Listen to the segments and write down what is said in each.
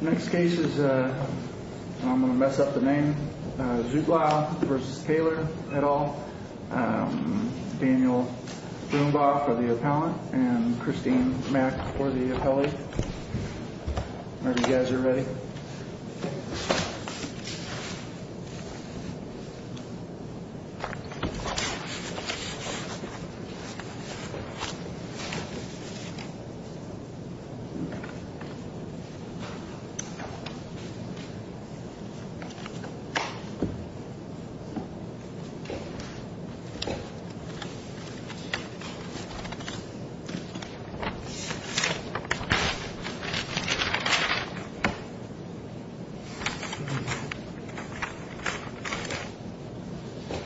Next case is, I'm going to mess up the name, Zuetlau v. Taylor et al., Daniel Brumbach for the appellant and Christine Mack for the appellee. I hope you guys are ready.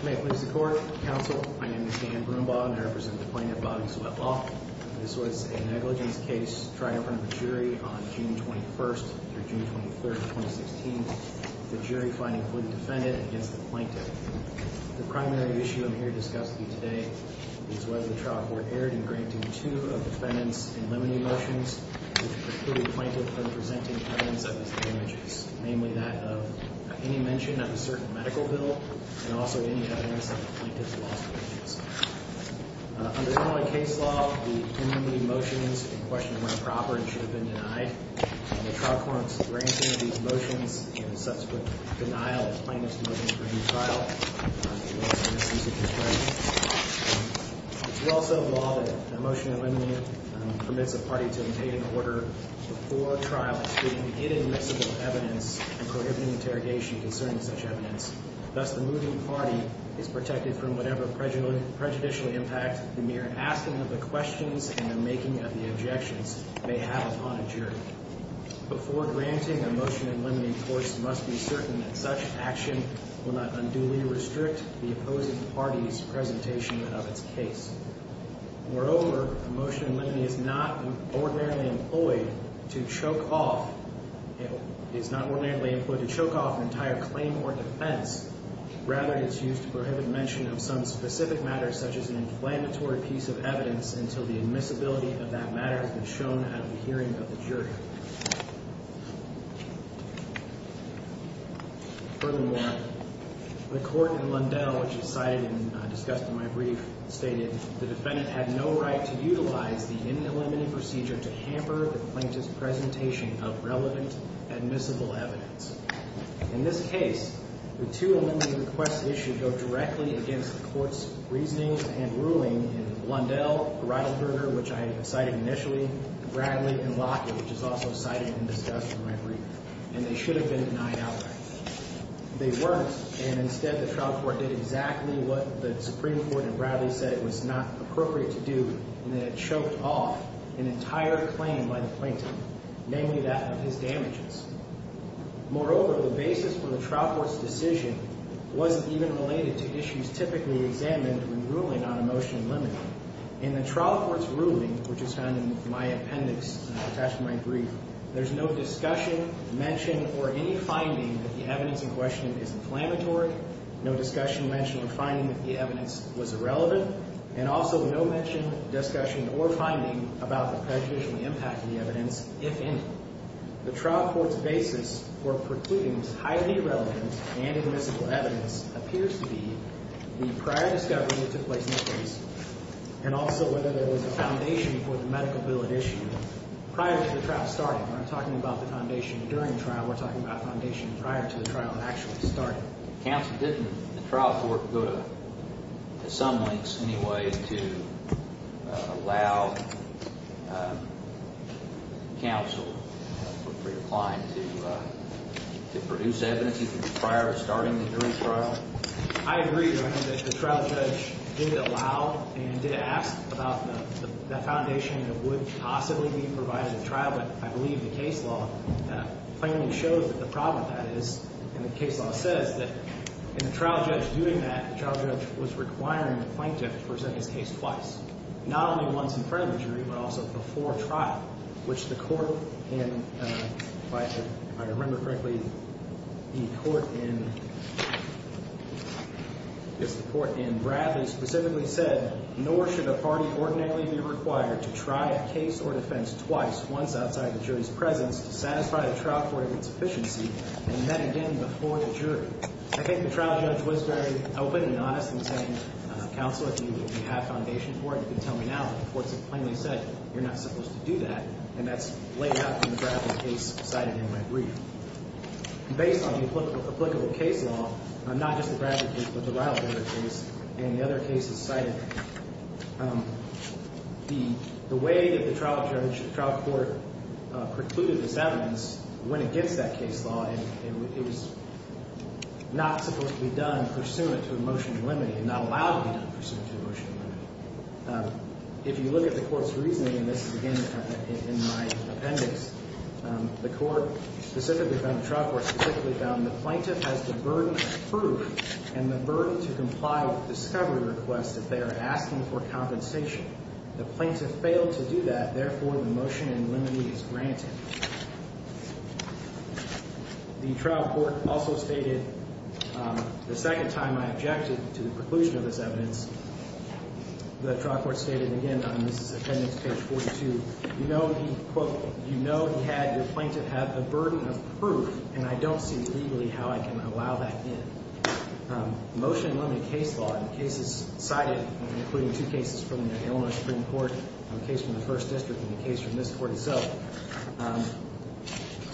May it please the court, counsel, my name is Dan Brumbach and I represent the plaintiff, Bobby Zuetlau. This was a negligence case tried in front of a jury on June 21st through June 23rd, 2016. The jury finding fully defendant against the plaintiff. The primary issue I'm here to discuss with you today is whether the trial court erred in granting two of defendants in limine motions which preclude the plaintiff from presenting evidence of his damages. Namely that of any mention of a certain medical bill and also any evidence of the plaintiff's loss of patience. Under Illinois case law, the limine motions in question are improper and should have been denied. The trial court's granting of these motions and subsequent denial of the plaintiff's limine for a new trial is a misuse of his rights. It's also a law that a motion of limine permits a party to obtain an order before a trial to speak of inadmissible evidence and prohibiting interrogation concerning such evidence. Thus the moving party is protected from whatever prejudicial impact the mere asking of the questions and the making of the objections may have upon a jury. Before granting a motion of limine, courts must be certain that such action will not unduly restrict the opposing party's presentation of its case. Moreover, a motion of limine is not ordinarily employed to choke off an entire claim or defense. Rather, it's used to prohibit mention of some specific matter such as an inflammatory piece of evidence until the admissibility of that matter has been shown at a hearing of the jury. Furthermore, the court in Lundell, which is cited and discussed in my brief, stated the defendant had no right to utilize the inaliminated procedure to hamper the plaintiff's presentation of relevant admissible evidence. In this case, the two amendment requests issued go directly against the court's reasoning and ruling in Lundell, Greidelberger, which I cited initially, Bradley, and Lockett, which is also cited and discussed in my brief. And they should have been denied outright. They weren't, and instead the trial court did exactly what the Supreme Court in Bradley said it was not appropriate to do, and that it choked off an entire claim by the plaintiff, namely that of his damages. Moreover, the basis for the trial court's decision wasn't even related to issues typically examined when ruling on a motion of limine. In the trial court's ruling, which is found in my appendix attached to my brief, there's no discussion, mention, or any finding that the evidence in question is inflammatory, no discussion, mention, or finding that the evidence was irrelevant, and also no mention, discussion, or finding about the prejudicial impact of the evidence, if any. The trial court's basis for precluding highly irrelevant and admissible evidence appears to be the prior discovery that took place in the case, and also whether there was a foundation for the medical bill at issue prior to the trial starting. We're not talking about the foundation during the trial. We're talking about foundation prior to the trial actually starting. Counsel, didn't the trial court go to some lengths anyway to allow counsel, for your client, to produce evidence prior to starting the jury trial? I agree, Your Honor, that the trial judge did allow and did ask about the foundation that would possibly be provided at trial, but I believe the case law plainly shows that the problem with that is, and the case law says that in the trial judge doing that, the trial judge was requiring the plaintiff to present his case twice, not only once in front of the jury, but also before trial, which the court in, if I remember correctly, the court in, I guess the court in Bradley specifically said, nor should a party ordinarily be required to try a case or defense twice, once outside the jury's presence, to satisfy the trial court of its efficiency, and then again before the jury. I think the trial judge was very open and honest in saying, Counsel, if you have foundation for it, you can tell me now, but the courts have plainly said you're not supposed to do that, and that's laid out in the Bradley case cited in my brief. Based on the applicable case law, not just the Bradley case, but the Ryley case, and the other cases cited, the way that the trial court precluded this evidence went against that case law, and it was not supposed to be done pursuant to a motion to eliminate, and not allowed to be done pursuant to a motion to eliminate. If you look at the court's reasoning, and this is, again, in my appendix, the court specifically found, the trial court specifically found, the plaintiff has the burden of proof, and the burden to comply with discovery requests that they are asking for compensation. The plaintiff failed to do that, therefore the motion to eliminate is granted. The trial court also stated, the second time I objected to the preclusion of this evidence, the trial court stated, again, this is appendix page 42, you know he had, the plaintiff had the burden of proof, and I don't see legally how I can allow that in. Motion to eliminate case law in cases cited, including two cases from the Illinois Supreme Court, a case from the first district, and a case from this court itself,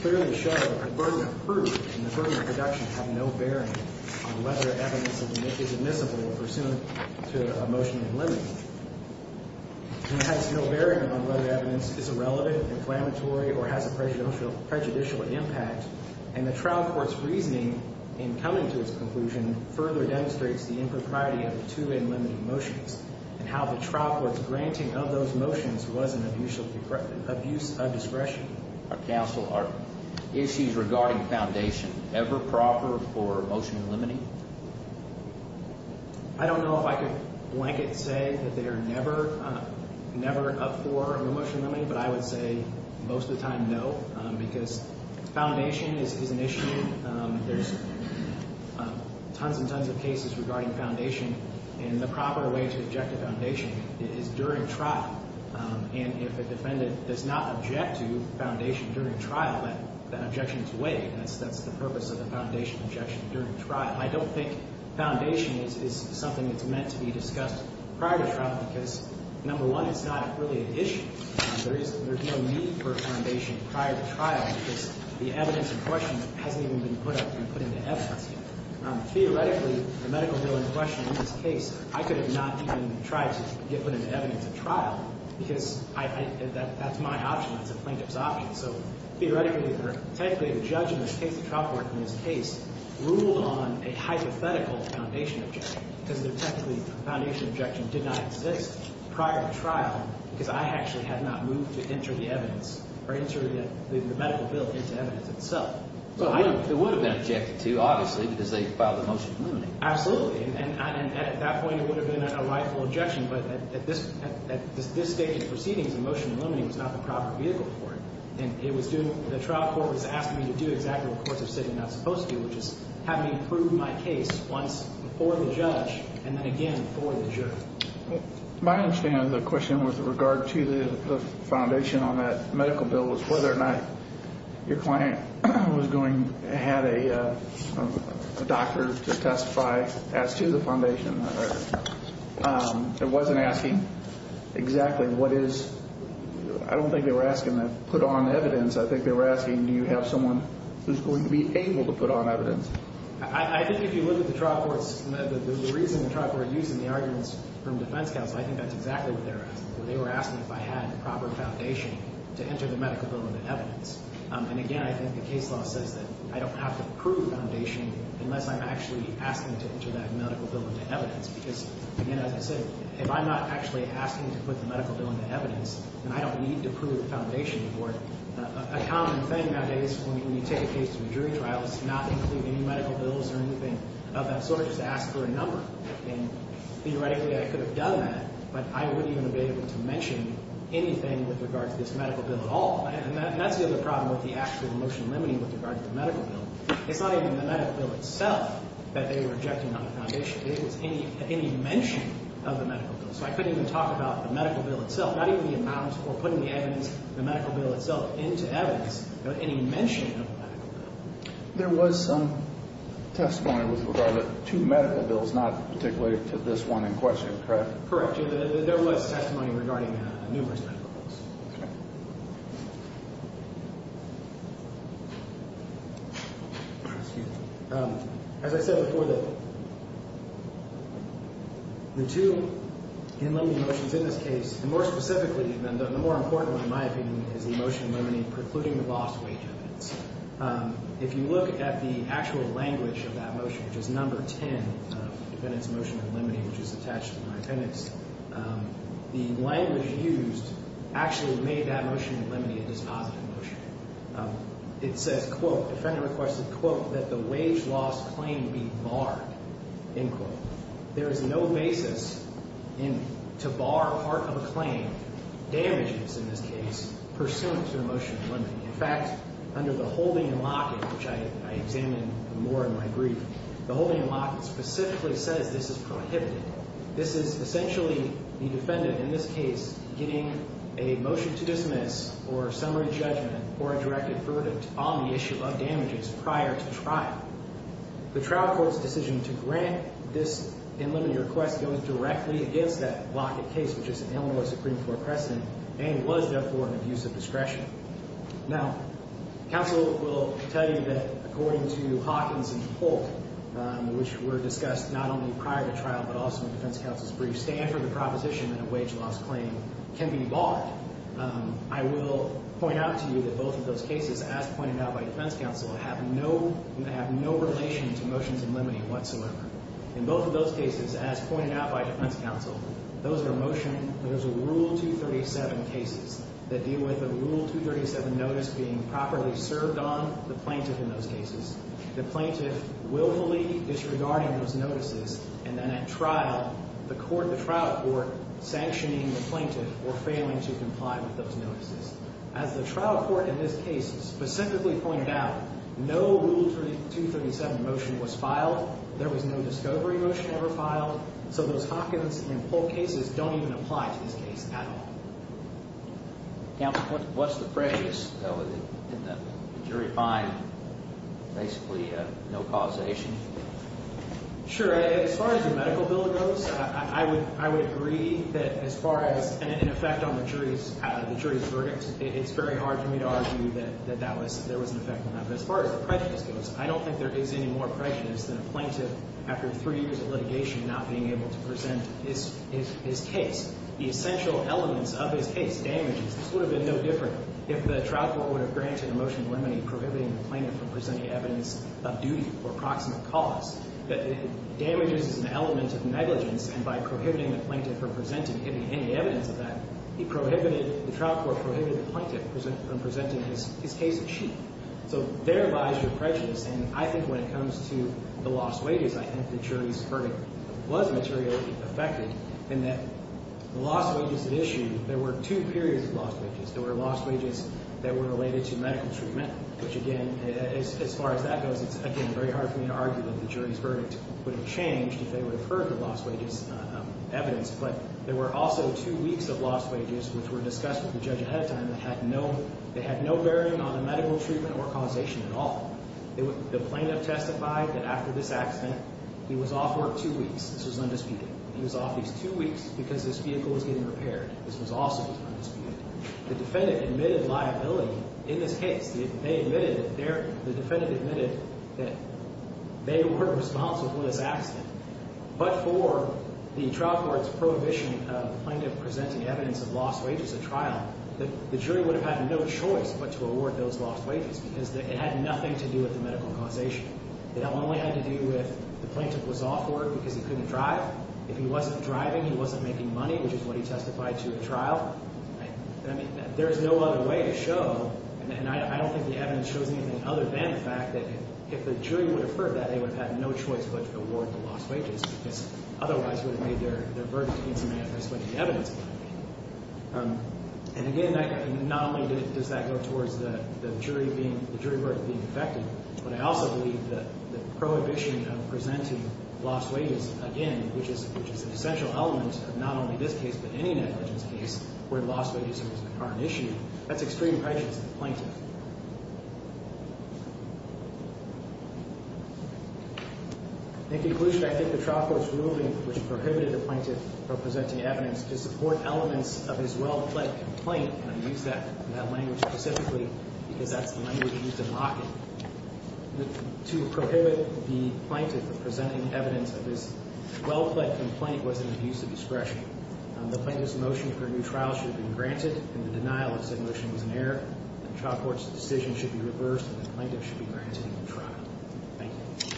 clearly show that the burden of proof and the burden of production have no bearing on whether evidence is admissible or pursuant to a motion to eliminate. It has no bearing on whether evidence is irrelevant, inflammatory, or has a prejudicial impact, and the trial court's reasoning, in coming to its conclusion, further demonstrates the impropriety of the two unlimited motions, and how the trial court's granting of those motions was an abuse of discretion. Are issues regarding foundation ever proper for motion to eliminate? I don't know if I could blanket say that they are never, never up for a motion to eliminate, but I would say most of the time no, because foundation is an issue. There's tons and tons of cases regarding foundation, and the proper way to object to foundation is during trial. And if a defendant does not object to foundation during trial, that objection is weighed, and that's the purpose of the foundation objection during trial. I don't think foundation is something that's meant to be discussed prior to trial because, number one, it's not really an issue. There's no need for foundation prior to trial because the evidence in question hasn't even been put up and put into evidence yet. Theoretically, the medical bill in question in this case, I could have not even tried to get put into evidence at trial because that's my option. That's a plaintiff's option. So theoretically, technically, the judge in this case, the trial court in this case, ruled on a hypothetical foundation objection because, technically, the foundation objection did not exist prior to trial because I actually had not moved to enter the evidence or enter the medical bill into evidence itself. Well, it would have been objected to, obviously, because they filed a motion to eliminate it. Absolutely. And at that point, it would have been a rightful objection, but at this stage of proceedings, a motion to eliminate was not the proper vehicle for it. And it was doing – the trial court was asking me to do exactly what courts of city are not supposed to do, which is have me prove my case once before the judge and then again before the jury. My understanding of the question with regard to the foundation on that medical bill was whether or not your client was going – had a doctor to testify as to the foundation. Right. It wasn't asking exactly what is – I don't think they were asking to put on evidence. I think they were asking do you have someone who's going to be able to put on evidence. I think if you look at the trial court's – the reason the trial court used in the arguments from defense counsel, I think that's exactly what they were asking. They were asking if I had the proper foundation to enter the medical bill into evidence. And, again, I think the case law says that I don't have to prove foundation unless I'm actually asking to enter that medical bill into evidence because, again, as I said, if I'm not actually asking to put the medical bill into evidence, then I don't need to prove foundation. A common thing nowadays when you take a case to a jury trial is to not include any medical bills or anything of that sort. Just ask for a number. And theoretically, I could have done that, but I wouldn't even have been able to mention anything with regard to this medical bill at all. And that's the other problem with the actual motion limiting with regard to the medical bill. It's not even the medical bill itself that they were objecting on the foundation. It was any mention of the medical bill. So I couldn't even talk about the medical bill itself, not even the amount or putting the evidence, the medical bill itself into evidence, any mention of the medical bill. There was some testimony with regard to two medical bills, not particularly to this one in question, correct? Correct. There was testimony regarding numerous medical bills. Okay. Excuse me. As I said before, the two motions in this case, and more specifically, the more important in my opinion, is the motion limiting precluding the lost wage evidence. If you look at the actual language of that motion, which is number 10, defendant's motion limiting, which is attached to my appendix, the language used actually made that motion limiting a dispositive motion. It says, quote, defendant requested, quote, that the wage loss claim be barred, end quote. There is no basis to bar part of a claim, damages in this case, pursuant to the motion limiting. In fact, under the holding and locking, which I examined more in my brief, the holding and locking specifically says this is prohibited. This is essentially the defendant in this case getting a motion to dismiss or summary judgment or a directed verdict on the issue of damages prior to trial. The trial court's decision to grant this and limit your request goes directly against that locket case, which is an Illinois Supreme Court precedent and was, therefore, an abuse of discretion. Now, counsel will tell you that according to Hawkins and Holt, which were discussed not only prior to trial but also in defense counsel's brief, stand for the proposition that a wage loss claim can be barred. I will point out to you that both of those cases, as pointed out by defense counsel, have no relation to motions and limiting whatsoever. In both of those cases, as pointed out by defense counsel, those are motion – those are Rule 237 cases that deal with a Rule 237 notice being properly served on the plaintiff in those cases. The plaintiff willfully disregarding those notices and then at trial, the court – the trial court sanctioning the plaintiff for failing to comply with those notices. As the trial court in this case specifically pointed out, no Rule 237 motion was filed. There was no discovery motion ever filed. So those Hawkins and Holt cases don't even apply to this case at all. Counsel, what's the prejudice in the jury find basically no causation? Sure. As far as the medical bill goes, I would agree that as far as an effect on the jury's verdict, it's very hard for me to argue that that was – there was an effect on that. But as far as the prejudice goes, I don't think there is any more prejudice than a plaintiff after three years of litigation not being able to present his case. The essential elements of his case, damages, this would have been no different if the trial court would have granted a motion to eliminate prohibiting the plaintiff from presenting evidence of duty or proximate cause. Damages is an element of negligence, and by prohibiting the plaintiff from presenting any evidence of that, he prohibited – the trial court prohibited the plaintiff from presenting his case of cheat. So there lies your prejudice. And I think when it comes to the lost wages, I think the jury's verdict was materially affected in that the lost wages issue, there were two periods of lost wages. There were lost wages that were related to medical treatment, which, again, as far as that goes, it's, again, very hard for me to argue that the jury's verdict would have changed if they would have heard the lost wages evidence. But there were also two weeks of lost wages which were discussed with the judge ahead of time that had no – that had no bearing on the medical treatment or causation at all. The plaintiff testified that after this accident, he was off work two weeks. This was undisputed. He was off these two weeks because his vehicle was getting repaired. This was also undisputed. The defendant admitted liability in this case. They admitted – the defendant admitted that they were responsible for this accident. But for the trial court's prohibition of the plaintiff presenting evidence of lost wages at trial, the jury would have had no choice but to award those lost wages because it had nothing to do with the medical causation. It only had to do with the plaintiff was off work because he couldn't drive. If he wasn't driving, he wasn't making money, which is what he testified to at trial. I mean, there is no other way to show – and I don't think the evidence shows anything other than the fact that if the jury would have heard that, they would have had no choice but to award the lost wages because otherwise it would have made their verdict insubstantial if they explained the evidence behind it. And again, not only does that go towards the jury being – the jury verdict being effective, but I also believe that the prohibition of presenting lost wages again, which is an essential element of not only this case but any negligence case where lost wages are an issue, that's extreme righteousness of the plaintiff. In conclusion, I think the trial court's ruling which prohibited the plaintiff from presenting evidence to support elements of his well-pled complaint – and I use that language specifically because that's the language used in Lockett – to prohibit the plaintiff from presenting evidence of his well-pled complaint was an abuse of discretion. The plaintiff's motion for a new trial should have been granted, and the denial of said motion was an error. The trial court's decision should be reversed, and the plaintiff should be granted a new trial. Thank you.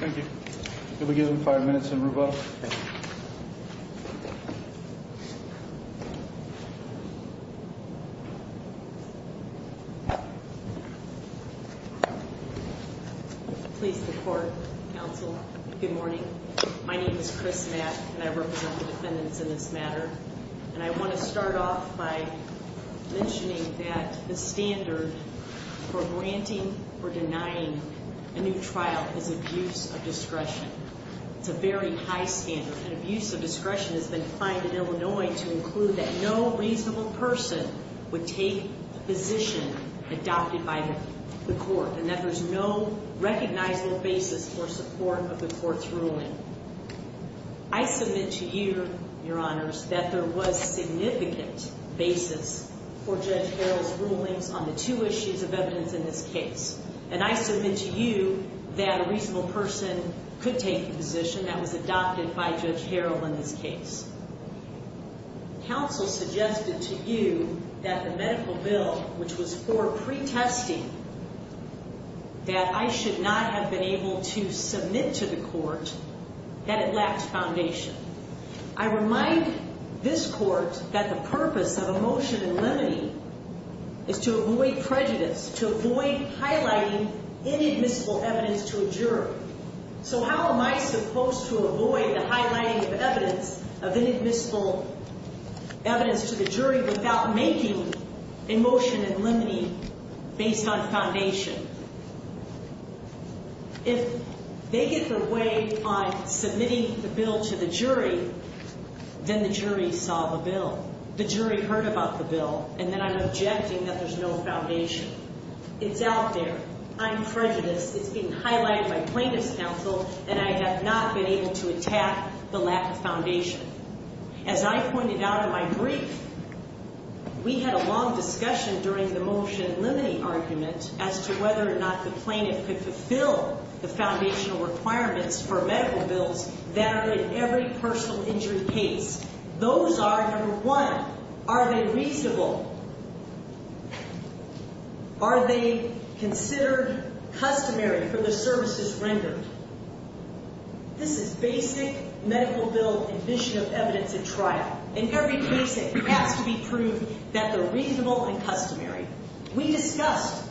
Thank you. Could we give them five minutes and revoke? Thank you. Please report, counsel. Good morning. My name is Chris Matt, and I represent the defendants in this matter. And I want to start off by mentioning that the standard for granting or denying a new trial is abuse of discretion. It's a very high standard, and abuse of discretion has been defined in Illinois to include that no reasonable person would take a position adopted by the court and that there's no recognizable basis for support of the court's ruling. I submit to you, Your Honors, that there was significant basis for Judge Harrell's rulings on the two issues of evidence in this case, and I submit to you that a reasonable person could take the position that was adopted by Judge Harrell in this case. Counsel suggested to you that the medical bill, which was for pretesting, that I should not have been able to submit to the court, that it lacked foundation. I remind this court that the purpose of a motion in limine is to avoid prejudice, to avoid highlighting inadmissible evidence to a jury. So how am I supposed to avoid the highlighting of evidence, of inadmissible evidence to the jury without making a motion in limine based on foundation? If they get their way on submitting the bill to the jury, then the jury saw the bill, the jury heard about the bill, and then I'm objecting that there's no foundation. It's out there. I'm prejudiced. It's being highlighted by plaintiff's counsel, and I have not been able to attack the lack of foundation. As I pointed out in my brief, we had a long discussion during the motion in limine argument as to whether or not the plaintiff could fulfill the foundational requirements for medical bills that are in every personal injury case. Those are, number one, are they reasonable? Are they considered customary for the services rendered? This is basic medical bill admission of evidence at trial. In every case, it has to be proved that they're reasonable and customary. We discussed,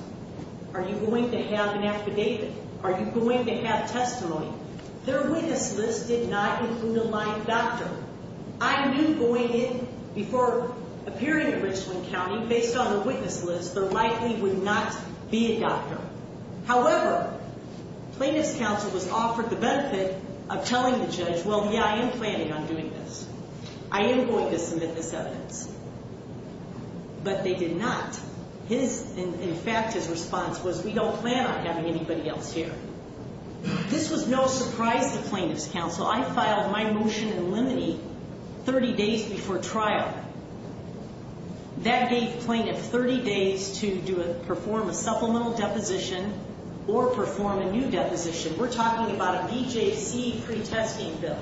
are you going to have an affidavit? Are you going to have testimony? Their witness list did not include a live doctor. I knew going in before appearing in Richland County, based on the witness list, there likely would not be a doctor. However, plaintiff's counsel was offered the benefit of telling the judge, well, yeah, I am planning on doing this. I am going to submit this evidence. But they did not. In fact, his response was, we don't plan on having anybody else here. This was no surprise to plaintiff's counsel. I filed my motion in limine 30 days before trial. That gave plaintiff 30 days to perform a supplemental deposition or perform a new deposition. We're talking about a BJC pretesting bill.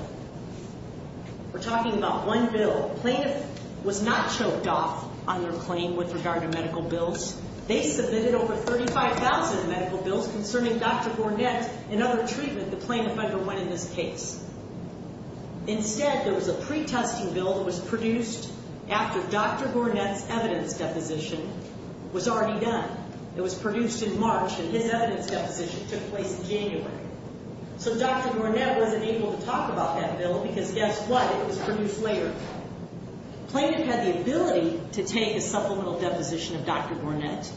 We're talking about one bill. Plaintiff was not choked off on their claim with regard to medical bills. They submitted over 35,000 medical bills concerning Dr. Gornett and other treatment the plaintiff underwent in this case. Instead, there was a pretesting bill that was produced after Dr. Gornett's evidence deposition was already done. It was produced in March and his evidence deposition took place in January. So Dr. Gornett wasn't able to talk about that bill because guess what? It was produced later. Plaintiff had the ability to take a supplemental deposition of Dr. Gornett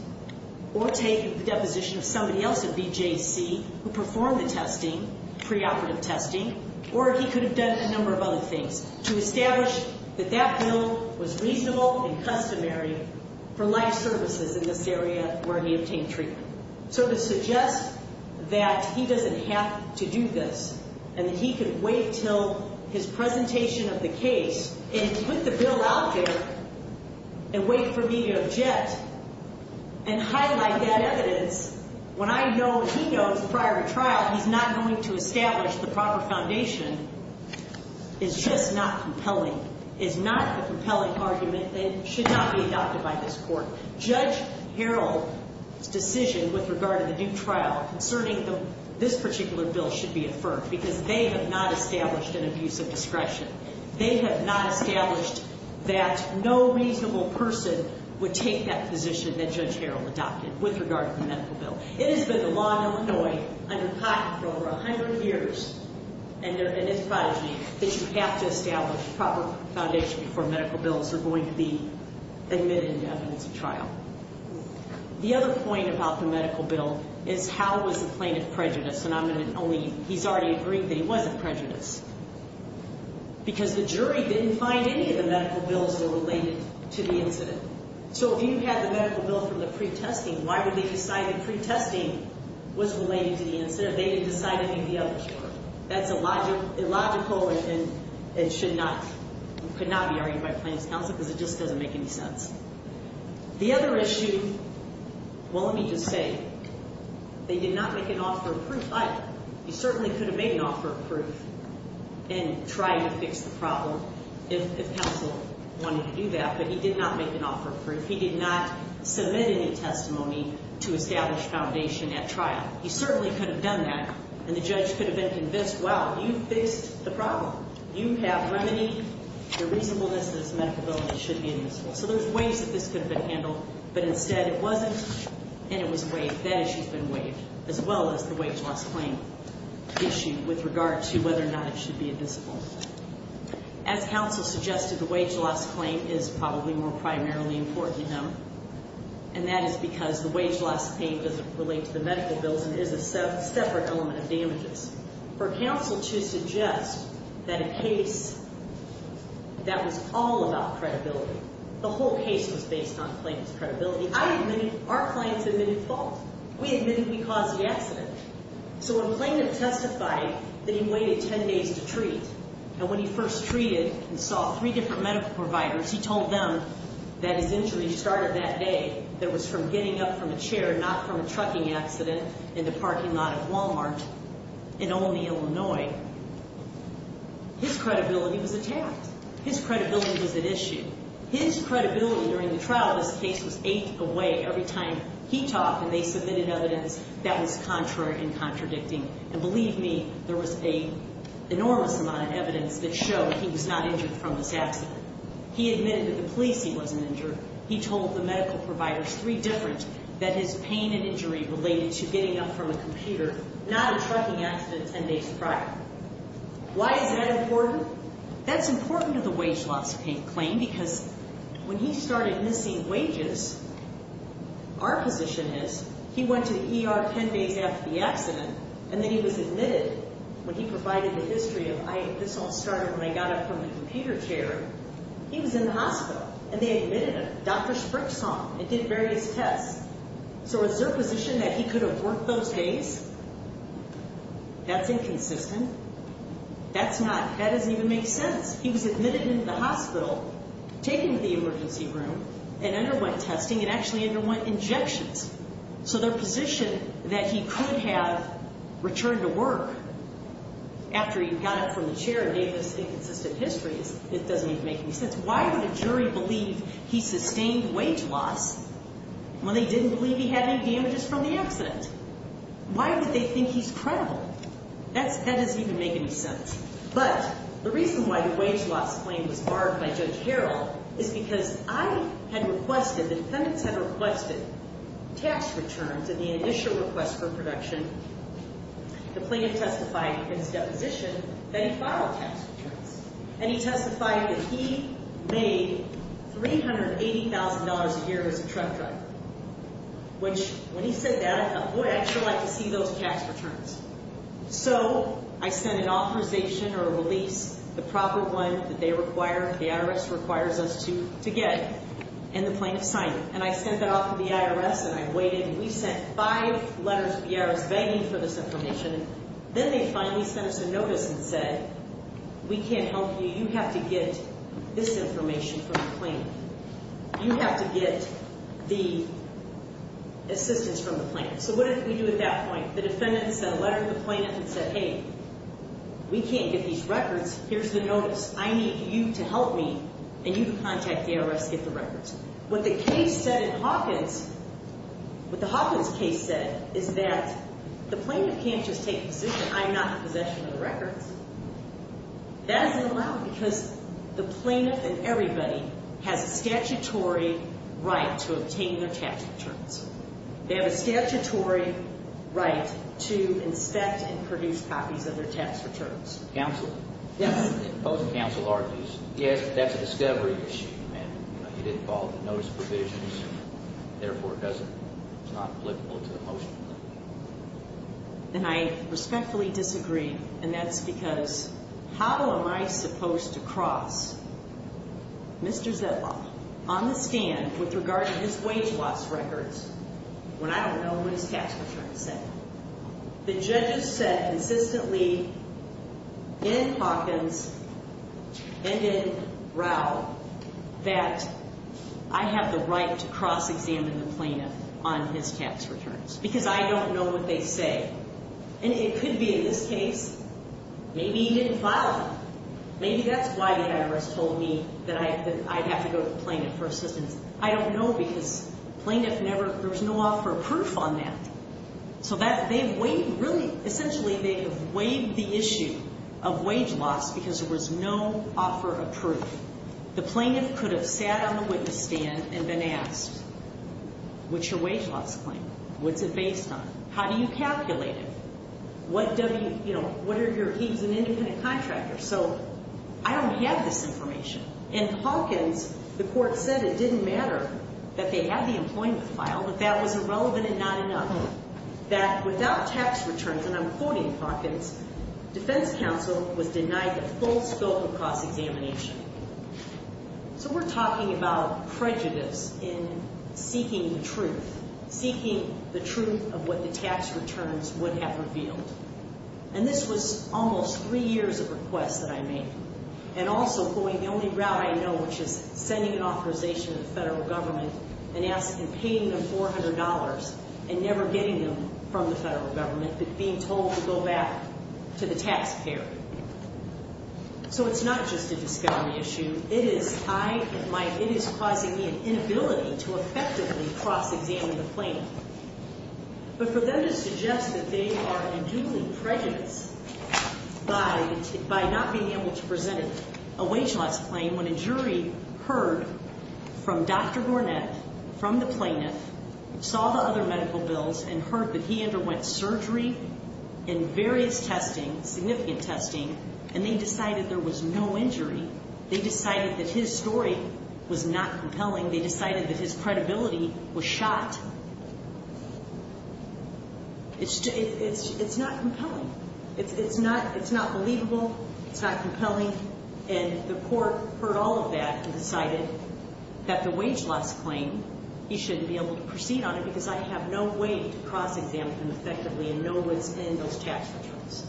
or take a deposition of somebody else at BJC who performed the testing, preoperative testing, or he could have done a number of other things to establish that that bill was reasonable and customary for life services in this area where he obtained treatment. So to suggest that he doesn't have to do this and that he can wait until his presentation of the case and put the bill out there and wait for me to object and highlight that evidence when I know and he knows prior to trial he's not going to establish the proper foundation is just not compelling, is not a compelling argument and should not be adopted by this court. Judge Harrell's decision with regard to the due trial concerning this particular bill should be affirmed because they have not established an abuse of discretion. They have not established that no reasonable person would take that position that Judge Harrell adopted with regard to the medical bill. It has been the law in Illinois under Cotton for over a hundred years that you have to establish proper foundation before medical bills are going to be admitted into evidence of trial. The other point about the medical bill is how was the plaintiff prejudiced? And I'm going to only, he's already agreed that he wasn't prejudiced because the jury didn't find any of the medical bills that were related to the incident. So if you had the medical bill from the pre-testing, why would they decide that pre-testing was related to the incident? They didn't decide any of the others were. That's illogical and should not, could not be argued by plaintiff's counsel because it just doesn't make any sense. The other issue, well let me just say, they did not make an offer of proof but he certainly could have made an offer of proof in trying to fix the problem if counsel wanted to do that but he did not make an offer of proof. He did not submit any testimony to establish foundation at trial. He certainly could have done that and the judge could have been convinced, well, you fixed the problem. You have remedied the reasonableness of this medical bill and it should be admissible. So there's ways that this could have been handled but instead it wasn't and it was waived. That issue has been waived as well as the wage loss claim issue with regard to whether or not it should be admissible. As counsel suggested, the wage loss claim is probably more primarily important to him and that is because the wage loss claim doesn't relate to the medical bills and is a separate element of damages. For counsel to suggest that a case that was all about credibility, the whole case was based on plaintiff's credibility, I admit our clients admitted fault. We admitted we caused the accident. So when plaintiff testified that he waited 10 days to treat and when he first treated and saw three different medical providers, he told them that his injury started that day. It was from getting up from a chair, not from a trucking accident in the parking lot of Walmart in Olney, Illinois. His credibility was attacked. His credibility was at issue. His credibility during the trial of this case was eight away. Every time he talked and they submitted evidence, that was contrary and contradicting. And believe me, there was an enormous amount of evidence that showed he was not injured from this accident. He admitted to the police he wasn't injured. He told the medical providers, three different, that his pain and injury related to getting up from a computer, not a trucking accident 10 days prior. Why is that important? That's important to the wage loss claim because when he started missing wages, our position is he went to the ER 10 days after the accident, and then he was admitted when he provided the history of, this all started when I got up from the computer chair. He was in the hospital, and they admitted him. Dr. Sprick saw him and did various tests. So is their position that he could have worked those days? That's inconsistent. That's not, that doesn't even make sense. He was admitted into the hospital, taken to the emergency room, and underwent testing, and actually underwent injections. So their position that he could have returned to work after he got up from the chair and gave this inconsistent history, it doesn't even make any sense. Why would a jury believe he sustained wage loss when they didn't believe he had any damages from the accident? Why would they think he's credible? That doesn't even make any sense. But the reason why the wage loss claim was barred by Judge Harrell is because I had requested, the defendants had requested tax returns in the initial request for production. The plaintiff testified in his deposition that he filed tax returns, and he testified that he made $380,000 a year as a truck driver, which when he said that, I thought, boy, I'd sure like to see those tax returns. So I sent an authorization or a release, the proper one that they require, the IRS requires us to get, and the plaintiff signed it. And I sent that off to the IRS, and I waited, and we sent five letters to the IRS begging for this information. Then they finally sent us a notice and said, we can't help you. You have to get this information from the plaintiff. You have to get the assistance from the plaintiff. So what did we do at that point? The defendant sent a letter to the plaintiff and said, hey, we can't get these records. Here's the notice. I need you to help me, and you contact the IRS to get the records. What the case said in Hawkins, what the Hawkins case said is that the plaintiff can't just take the decision, I'm not in possession of the records. That isn't allowed because the plaintiff and everybody has a statutory right to obtain their tax returns. They have a statutory right to inspect and produce copies of their tax returns. Counsel? Yes. Both counsel argues, yes, but that's a discovery issue, and you didn't follow the notice provisions, and therefore it doesn't, it's not applicable to the motion. And I respectfully disagree, and that's because how am I supposed to cross Mr. Zedlock on the stand with regard to his wage loss records when I don't know what his tax returns say? The judges said consistently in Hawkins and in Rowe that I have the right to cross-examine the plaintiff on his tax returns because I don't know what they say. And it could be in this case maybe he didn't file them. Maybe that's why the IRS told me that I'd have to go to the plaintiff for assistance. I don't know because the plaintiff never, there was no offer of proof on that. So they've weighed, really, essentially they've weighed the issue of wage loss because there was no offer of proof. The plaintiff could have sat on the witness stand and been asked, what's your wage loss claim? What's it based on? How do you calculate it? What are your, he's an independent contractor, so I don't have this information. In Hawkins, the court said it didn't matter that they had the employment file, that that was irrelevant and not enough, that without tax returns, and I'm quoting Hawkins, defense counsel was denied the full scope of cross-examination. So we're talking about prejudice in seeking the truth, seeking the truth of what the tax returns would have revealed. And this was almost three years of requests that I made. And also going the only route I know, which is sending an authorization to the federal government and asking, paying them $400 and never getting them from the federal government, but being told to go back to the taxpayer. So it's not just a discovery issue. It is causing me an inability to effectively cross-examine the plaintiff. But for them to suggest that they are unduly prejudiced by not being able to present a wage loss claim when a jury heard from Dr. Gournett, from the plaintiff, saw the other medical bills, and heard that he underwent surgery and various testing, significant testing, and they decided there was no injury, they decided that his story was not compelling, they decided that his credibility was shot, it's not compelling. It's not believable. It's not compelling. And the court heard all of that and decided that the wage loss claim, he shouldn't be able to proceed on it because I have no way to cross-examine him effectively and know what's in those tax returns.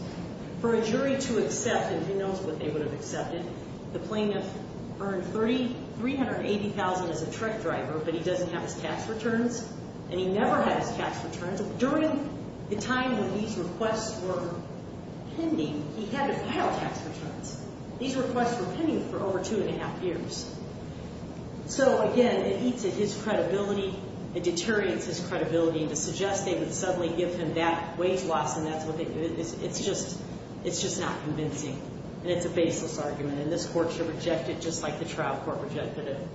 For a jury to accept, and who knows what they would have accepted, the plaintiff earned $380,000 as a truck driver, but he doesn't have his tax returns, and he never had his tax returns. During the time when these requests were pending, he had to file tax returns. These requests were pending for over two and a half years. So, again, it eats at his credibility, it deteriorates his credibility, and to suggest they would suddenly give him that wage loss and that's what they do, it's just not convincing, and it's a baseless argument, and this court should reject it just like the trial court rejected it.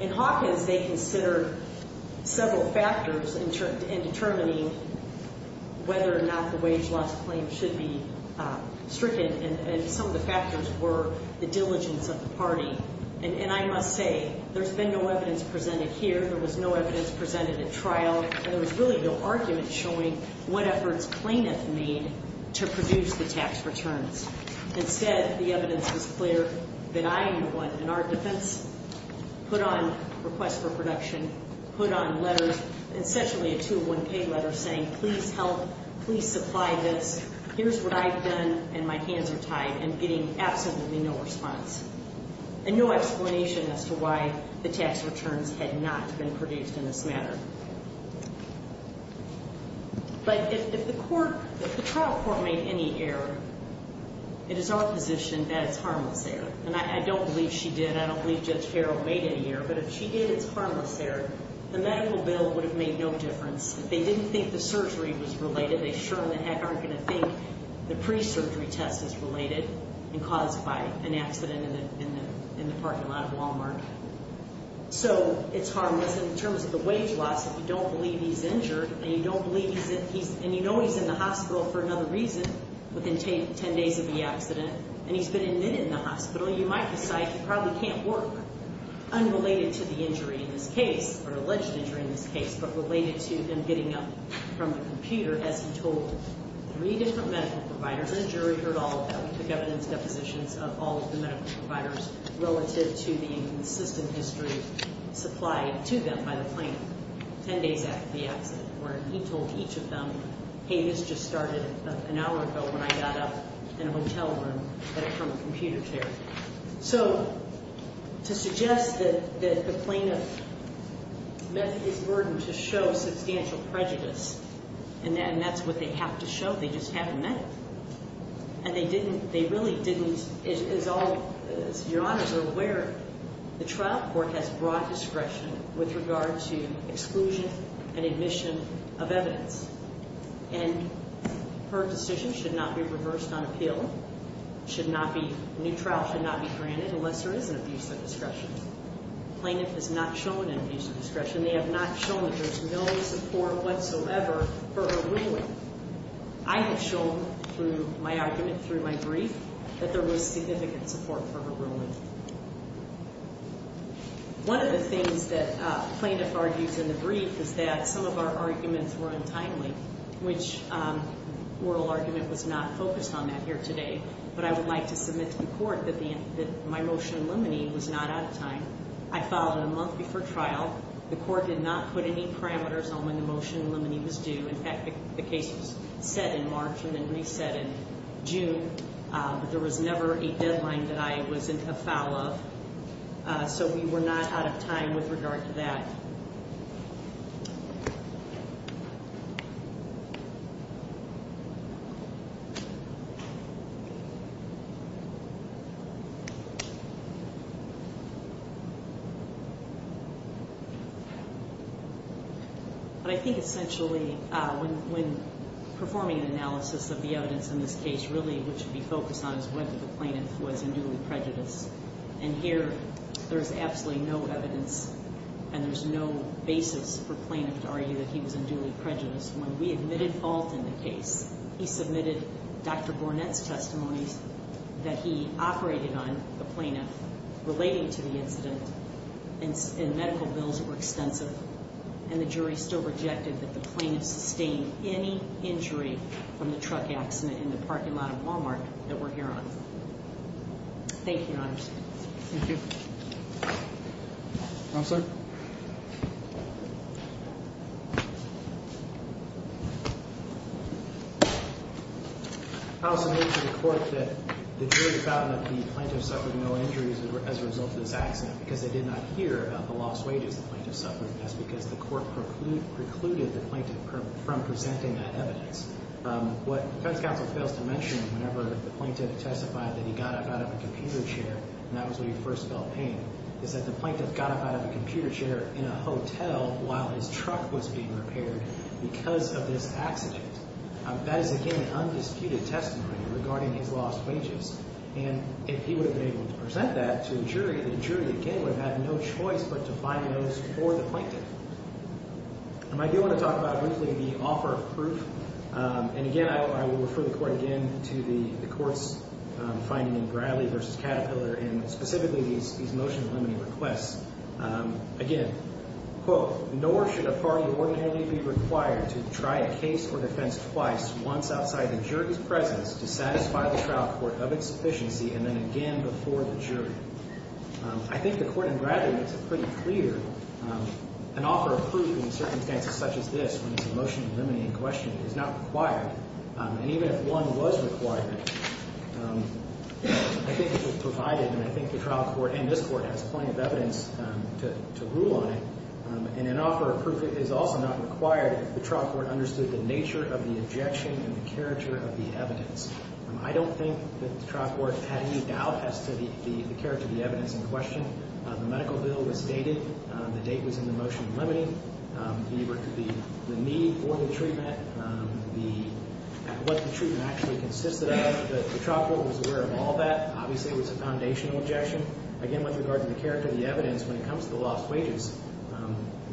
In Hawkins, they considered several factors in determining whether or not the wage loss claim should be stricken, and some of the factors were the diligence of the party. And I must say, there's been no evidence presented here, there was no evidence presented at trial, and there was really no argument showing what efforts plaintiff made to produce the tax returns. Instead, the evidence was clear that I am the one, in our defense, put on requests for production, put on letters, essentially a two-to-one pay letter saying, please help, please supply this, here's what I've done, and my hands are tied, and getting absolutely no response. And no explanation as to why the tax returns had not been produced in this matter. But if the trial court made any error, it is our position that it's harmless error. And I don't believe she did, I don't believe Judge Farrell made any error, but if she did, it's harmless error. The medical bill would have made no difference. If they didn't think the surgery was related, they sure in the heck aren't going to think the pre-surgery test is related and caused by an accident in the parking lot of Walmart. So, it's harmless. In terms of the wage loss, if you don't believe he's injured, and you know he's in the hospital for another reason, within 10 days of the accident, and he's been admitted in the hospital, you might decide he probably can't work, unrelated to the injury in this case, or alleged injury in this case, but related to him getting up from the computer, as he told three different medical providers, and the jury heard all of that. We took evidence depositions of all of the medical providers relative to the inconsistent history supplied to them by the plaintiff, 10 days after the accident, where he told each of them, hey, this just started an hour ago when I got up in a hotel room from a computer chair. So, to suggest that the plaintiff met his burden to show substantial prejudice, and that's what they have to show. They just haven't met him. And they didn't, they really didn't, as all, as your honors are aware, the trial court has broad discretion with regard to exclusion and admission of evidence. And her decision should not be reversed on appeal, should not be, a new trial should not be granted unless there is an abuse of discretion. The plaintiff has not shown an abuse of discretion. They have not shown that there's no support whatsoever for her ruling. I have shown through my argument, through my brief, that there was significant support for her ruling. One of the things that plaintiff argues in the brief is that some of our arguments were untimely, which oral argument was not focused on that here today, but I would like to submit to the court that my motion in limine was not out of time. I filed it a month before trial. The court did not put any parameters on when the motion in limine was due. In fact, the case was set in March and then reset in June. But there was never a deadline that I was in a foul of. So we were not out of time with regard to that. But I think essentially when performing an analysis of the evidence in this case, really what should be focused on is whether the plaintiff was in duly prejudiced. And here there's absolutely no evidence and there's no basis for plaintiff to argue that he was in duly prejudiced. When we admitted fault in the case, he submitted Dr. Bournette's testimonies that he operated on the plaintiff relating to the incident in medical bills that were extensive. And the jury still rejected that the plaintiff sustained any injury from the truck accident in the parking lot of Walmart that we're here on. Thank you, Your Honor. Thank you. Counselor? I also make to the court that the jury found that the plaintiff suffered no injuries as a result of this accident because they did not hear about the lost wages the plaintiff suffered. That's because the court precluded the plaintiff from presenting that evidence. What defense counsel fails to mention whenever the plaintiff testified that he got up out of a computer chair and that was when he first felt pain is that the plaintiff got up out of a computer chair in a hotel while his truck was being repaired because of this accident. That is, again, an undisputed testimony regarding his lost wages. And if he would have been able to present that to the jury, the jury, again, would have had no choice but to find a notice for the plaintiff. I do want to talk about briefly the offer of proof. And again, I will refer the court again to the court's finding in Bradley v. Caterpillar and specifically these motion delimiting requests. Again, quote, nor should a party ordinarily be required to try a case or defense twice once outside the jury's presence to satisfy the trial court of its sufficiency and then again before the jury. I think the court in Bradley makes it pretty clear an offer of proof in circumstances such as this, when it's a motion delimiting question, is not required. And even if one was required, I think it was provided and I think the trial court and this court has plenty of evidence to rule on it. And an offer of proof is also not required if the trial court understood the nature of the objection and the character of the evidence. I don't think that the trial court had any doubt as to the character of the evidence in question. The medical bill was stated. The date was in the motion delimiting. The need for the treatment, what the treatment actually consisted of, the trial court was aware of all that. Obviously, it was a foundational objection. Again, with regard to the character of the evidence, when it comes to the lost wages,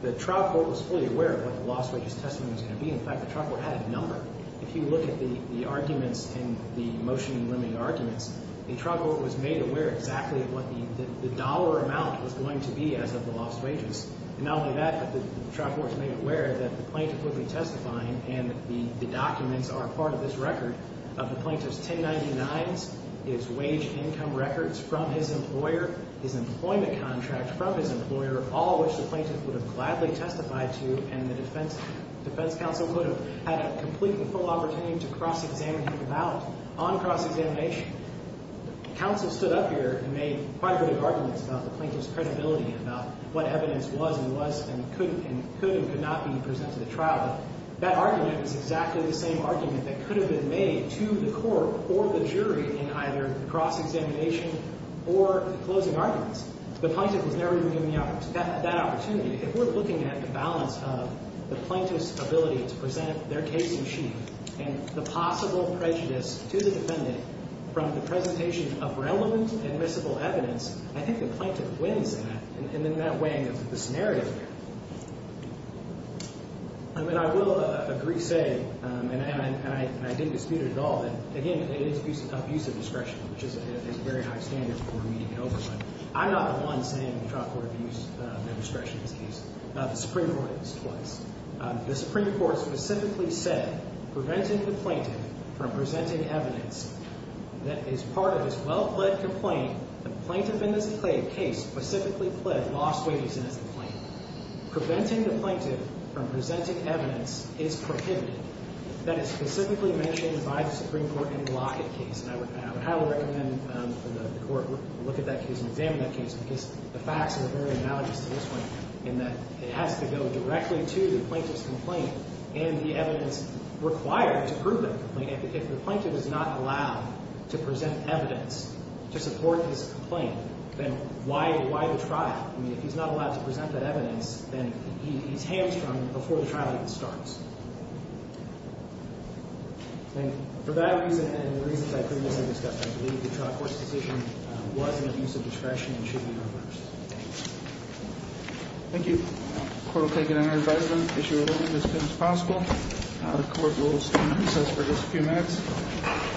the trial court was fully aware of what the lost wages testimony was going to be. In fact, the trial court had a number. If you look at the arguments in the motion delimiting arguments, the trial court was made aware exactly of what the dollar amount was going to be as of the lost wages. And not only that, but the trial court was made aware that the plaintiff would be testifying and the documents are part of this record of the plaintiff's 1099s, his wage income records from his employer, his employment contract from his employer, all of which the plaintiff would have gladly testified to and the defense counsel would have had a completely full opportunity to cross-examine him about. On cross-examination, counsel stood up here and made quite a bit of arguments about the plaintiff's credibility and about what evidence was and was and could and could not be presented to the trial. That argument is exactly the same argument that could have been made to the court or the jury in either cross-examination or closing arguments. The plaintiff was never given that opportunity. If we're looking at the balance of the plaintiff's ability to present their case in sheet and the possible prejudice to the defendant from the presentation of relevant admissible evidence, I think the plaintiff wins in that way in this narrative here. I mean, I will agree, say, and I didn't dispute it at all, but, again, it is abuse of discretion, which is a very high standard for immediate oversight. I'm not the one saying the trial court abused their discretion in this case. The Supreme Court did this twice. The Supreme Court specifically said, Preventing the plaintiff from presenting evidence that is part of his well-led complaint, the plaintiff in this case specifically pled lost wages as the plaintiff. Preventing the plaintiff from presenting evidence is prohibited. That is specifically mentioned by the Supreme Court in the Lockett case, and I would highly recommend that the court look at that case and examine that case because the facts are very analogous to this one in that it has to go directly to the plaintiff's complaint and the evidence required to prove that complaint. If the plaintiff is not allowed to present evidence to support his complaint, then why the trial? I mean, if he's not allowed to present that evidence, then he's hamstrung before the trial even starts. And for that reason and the reasons I previously discussed, I believe the trial court's decision was an abuse of discretion and should be reversed. Thank you. Thank you. The court will take it under advisement, issue a ruling as soon as possible. The court rules in recess for just a few minutes.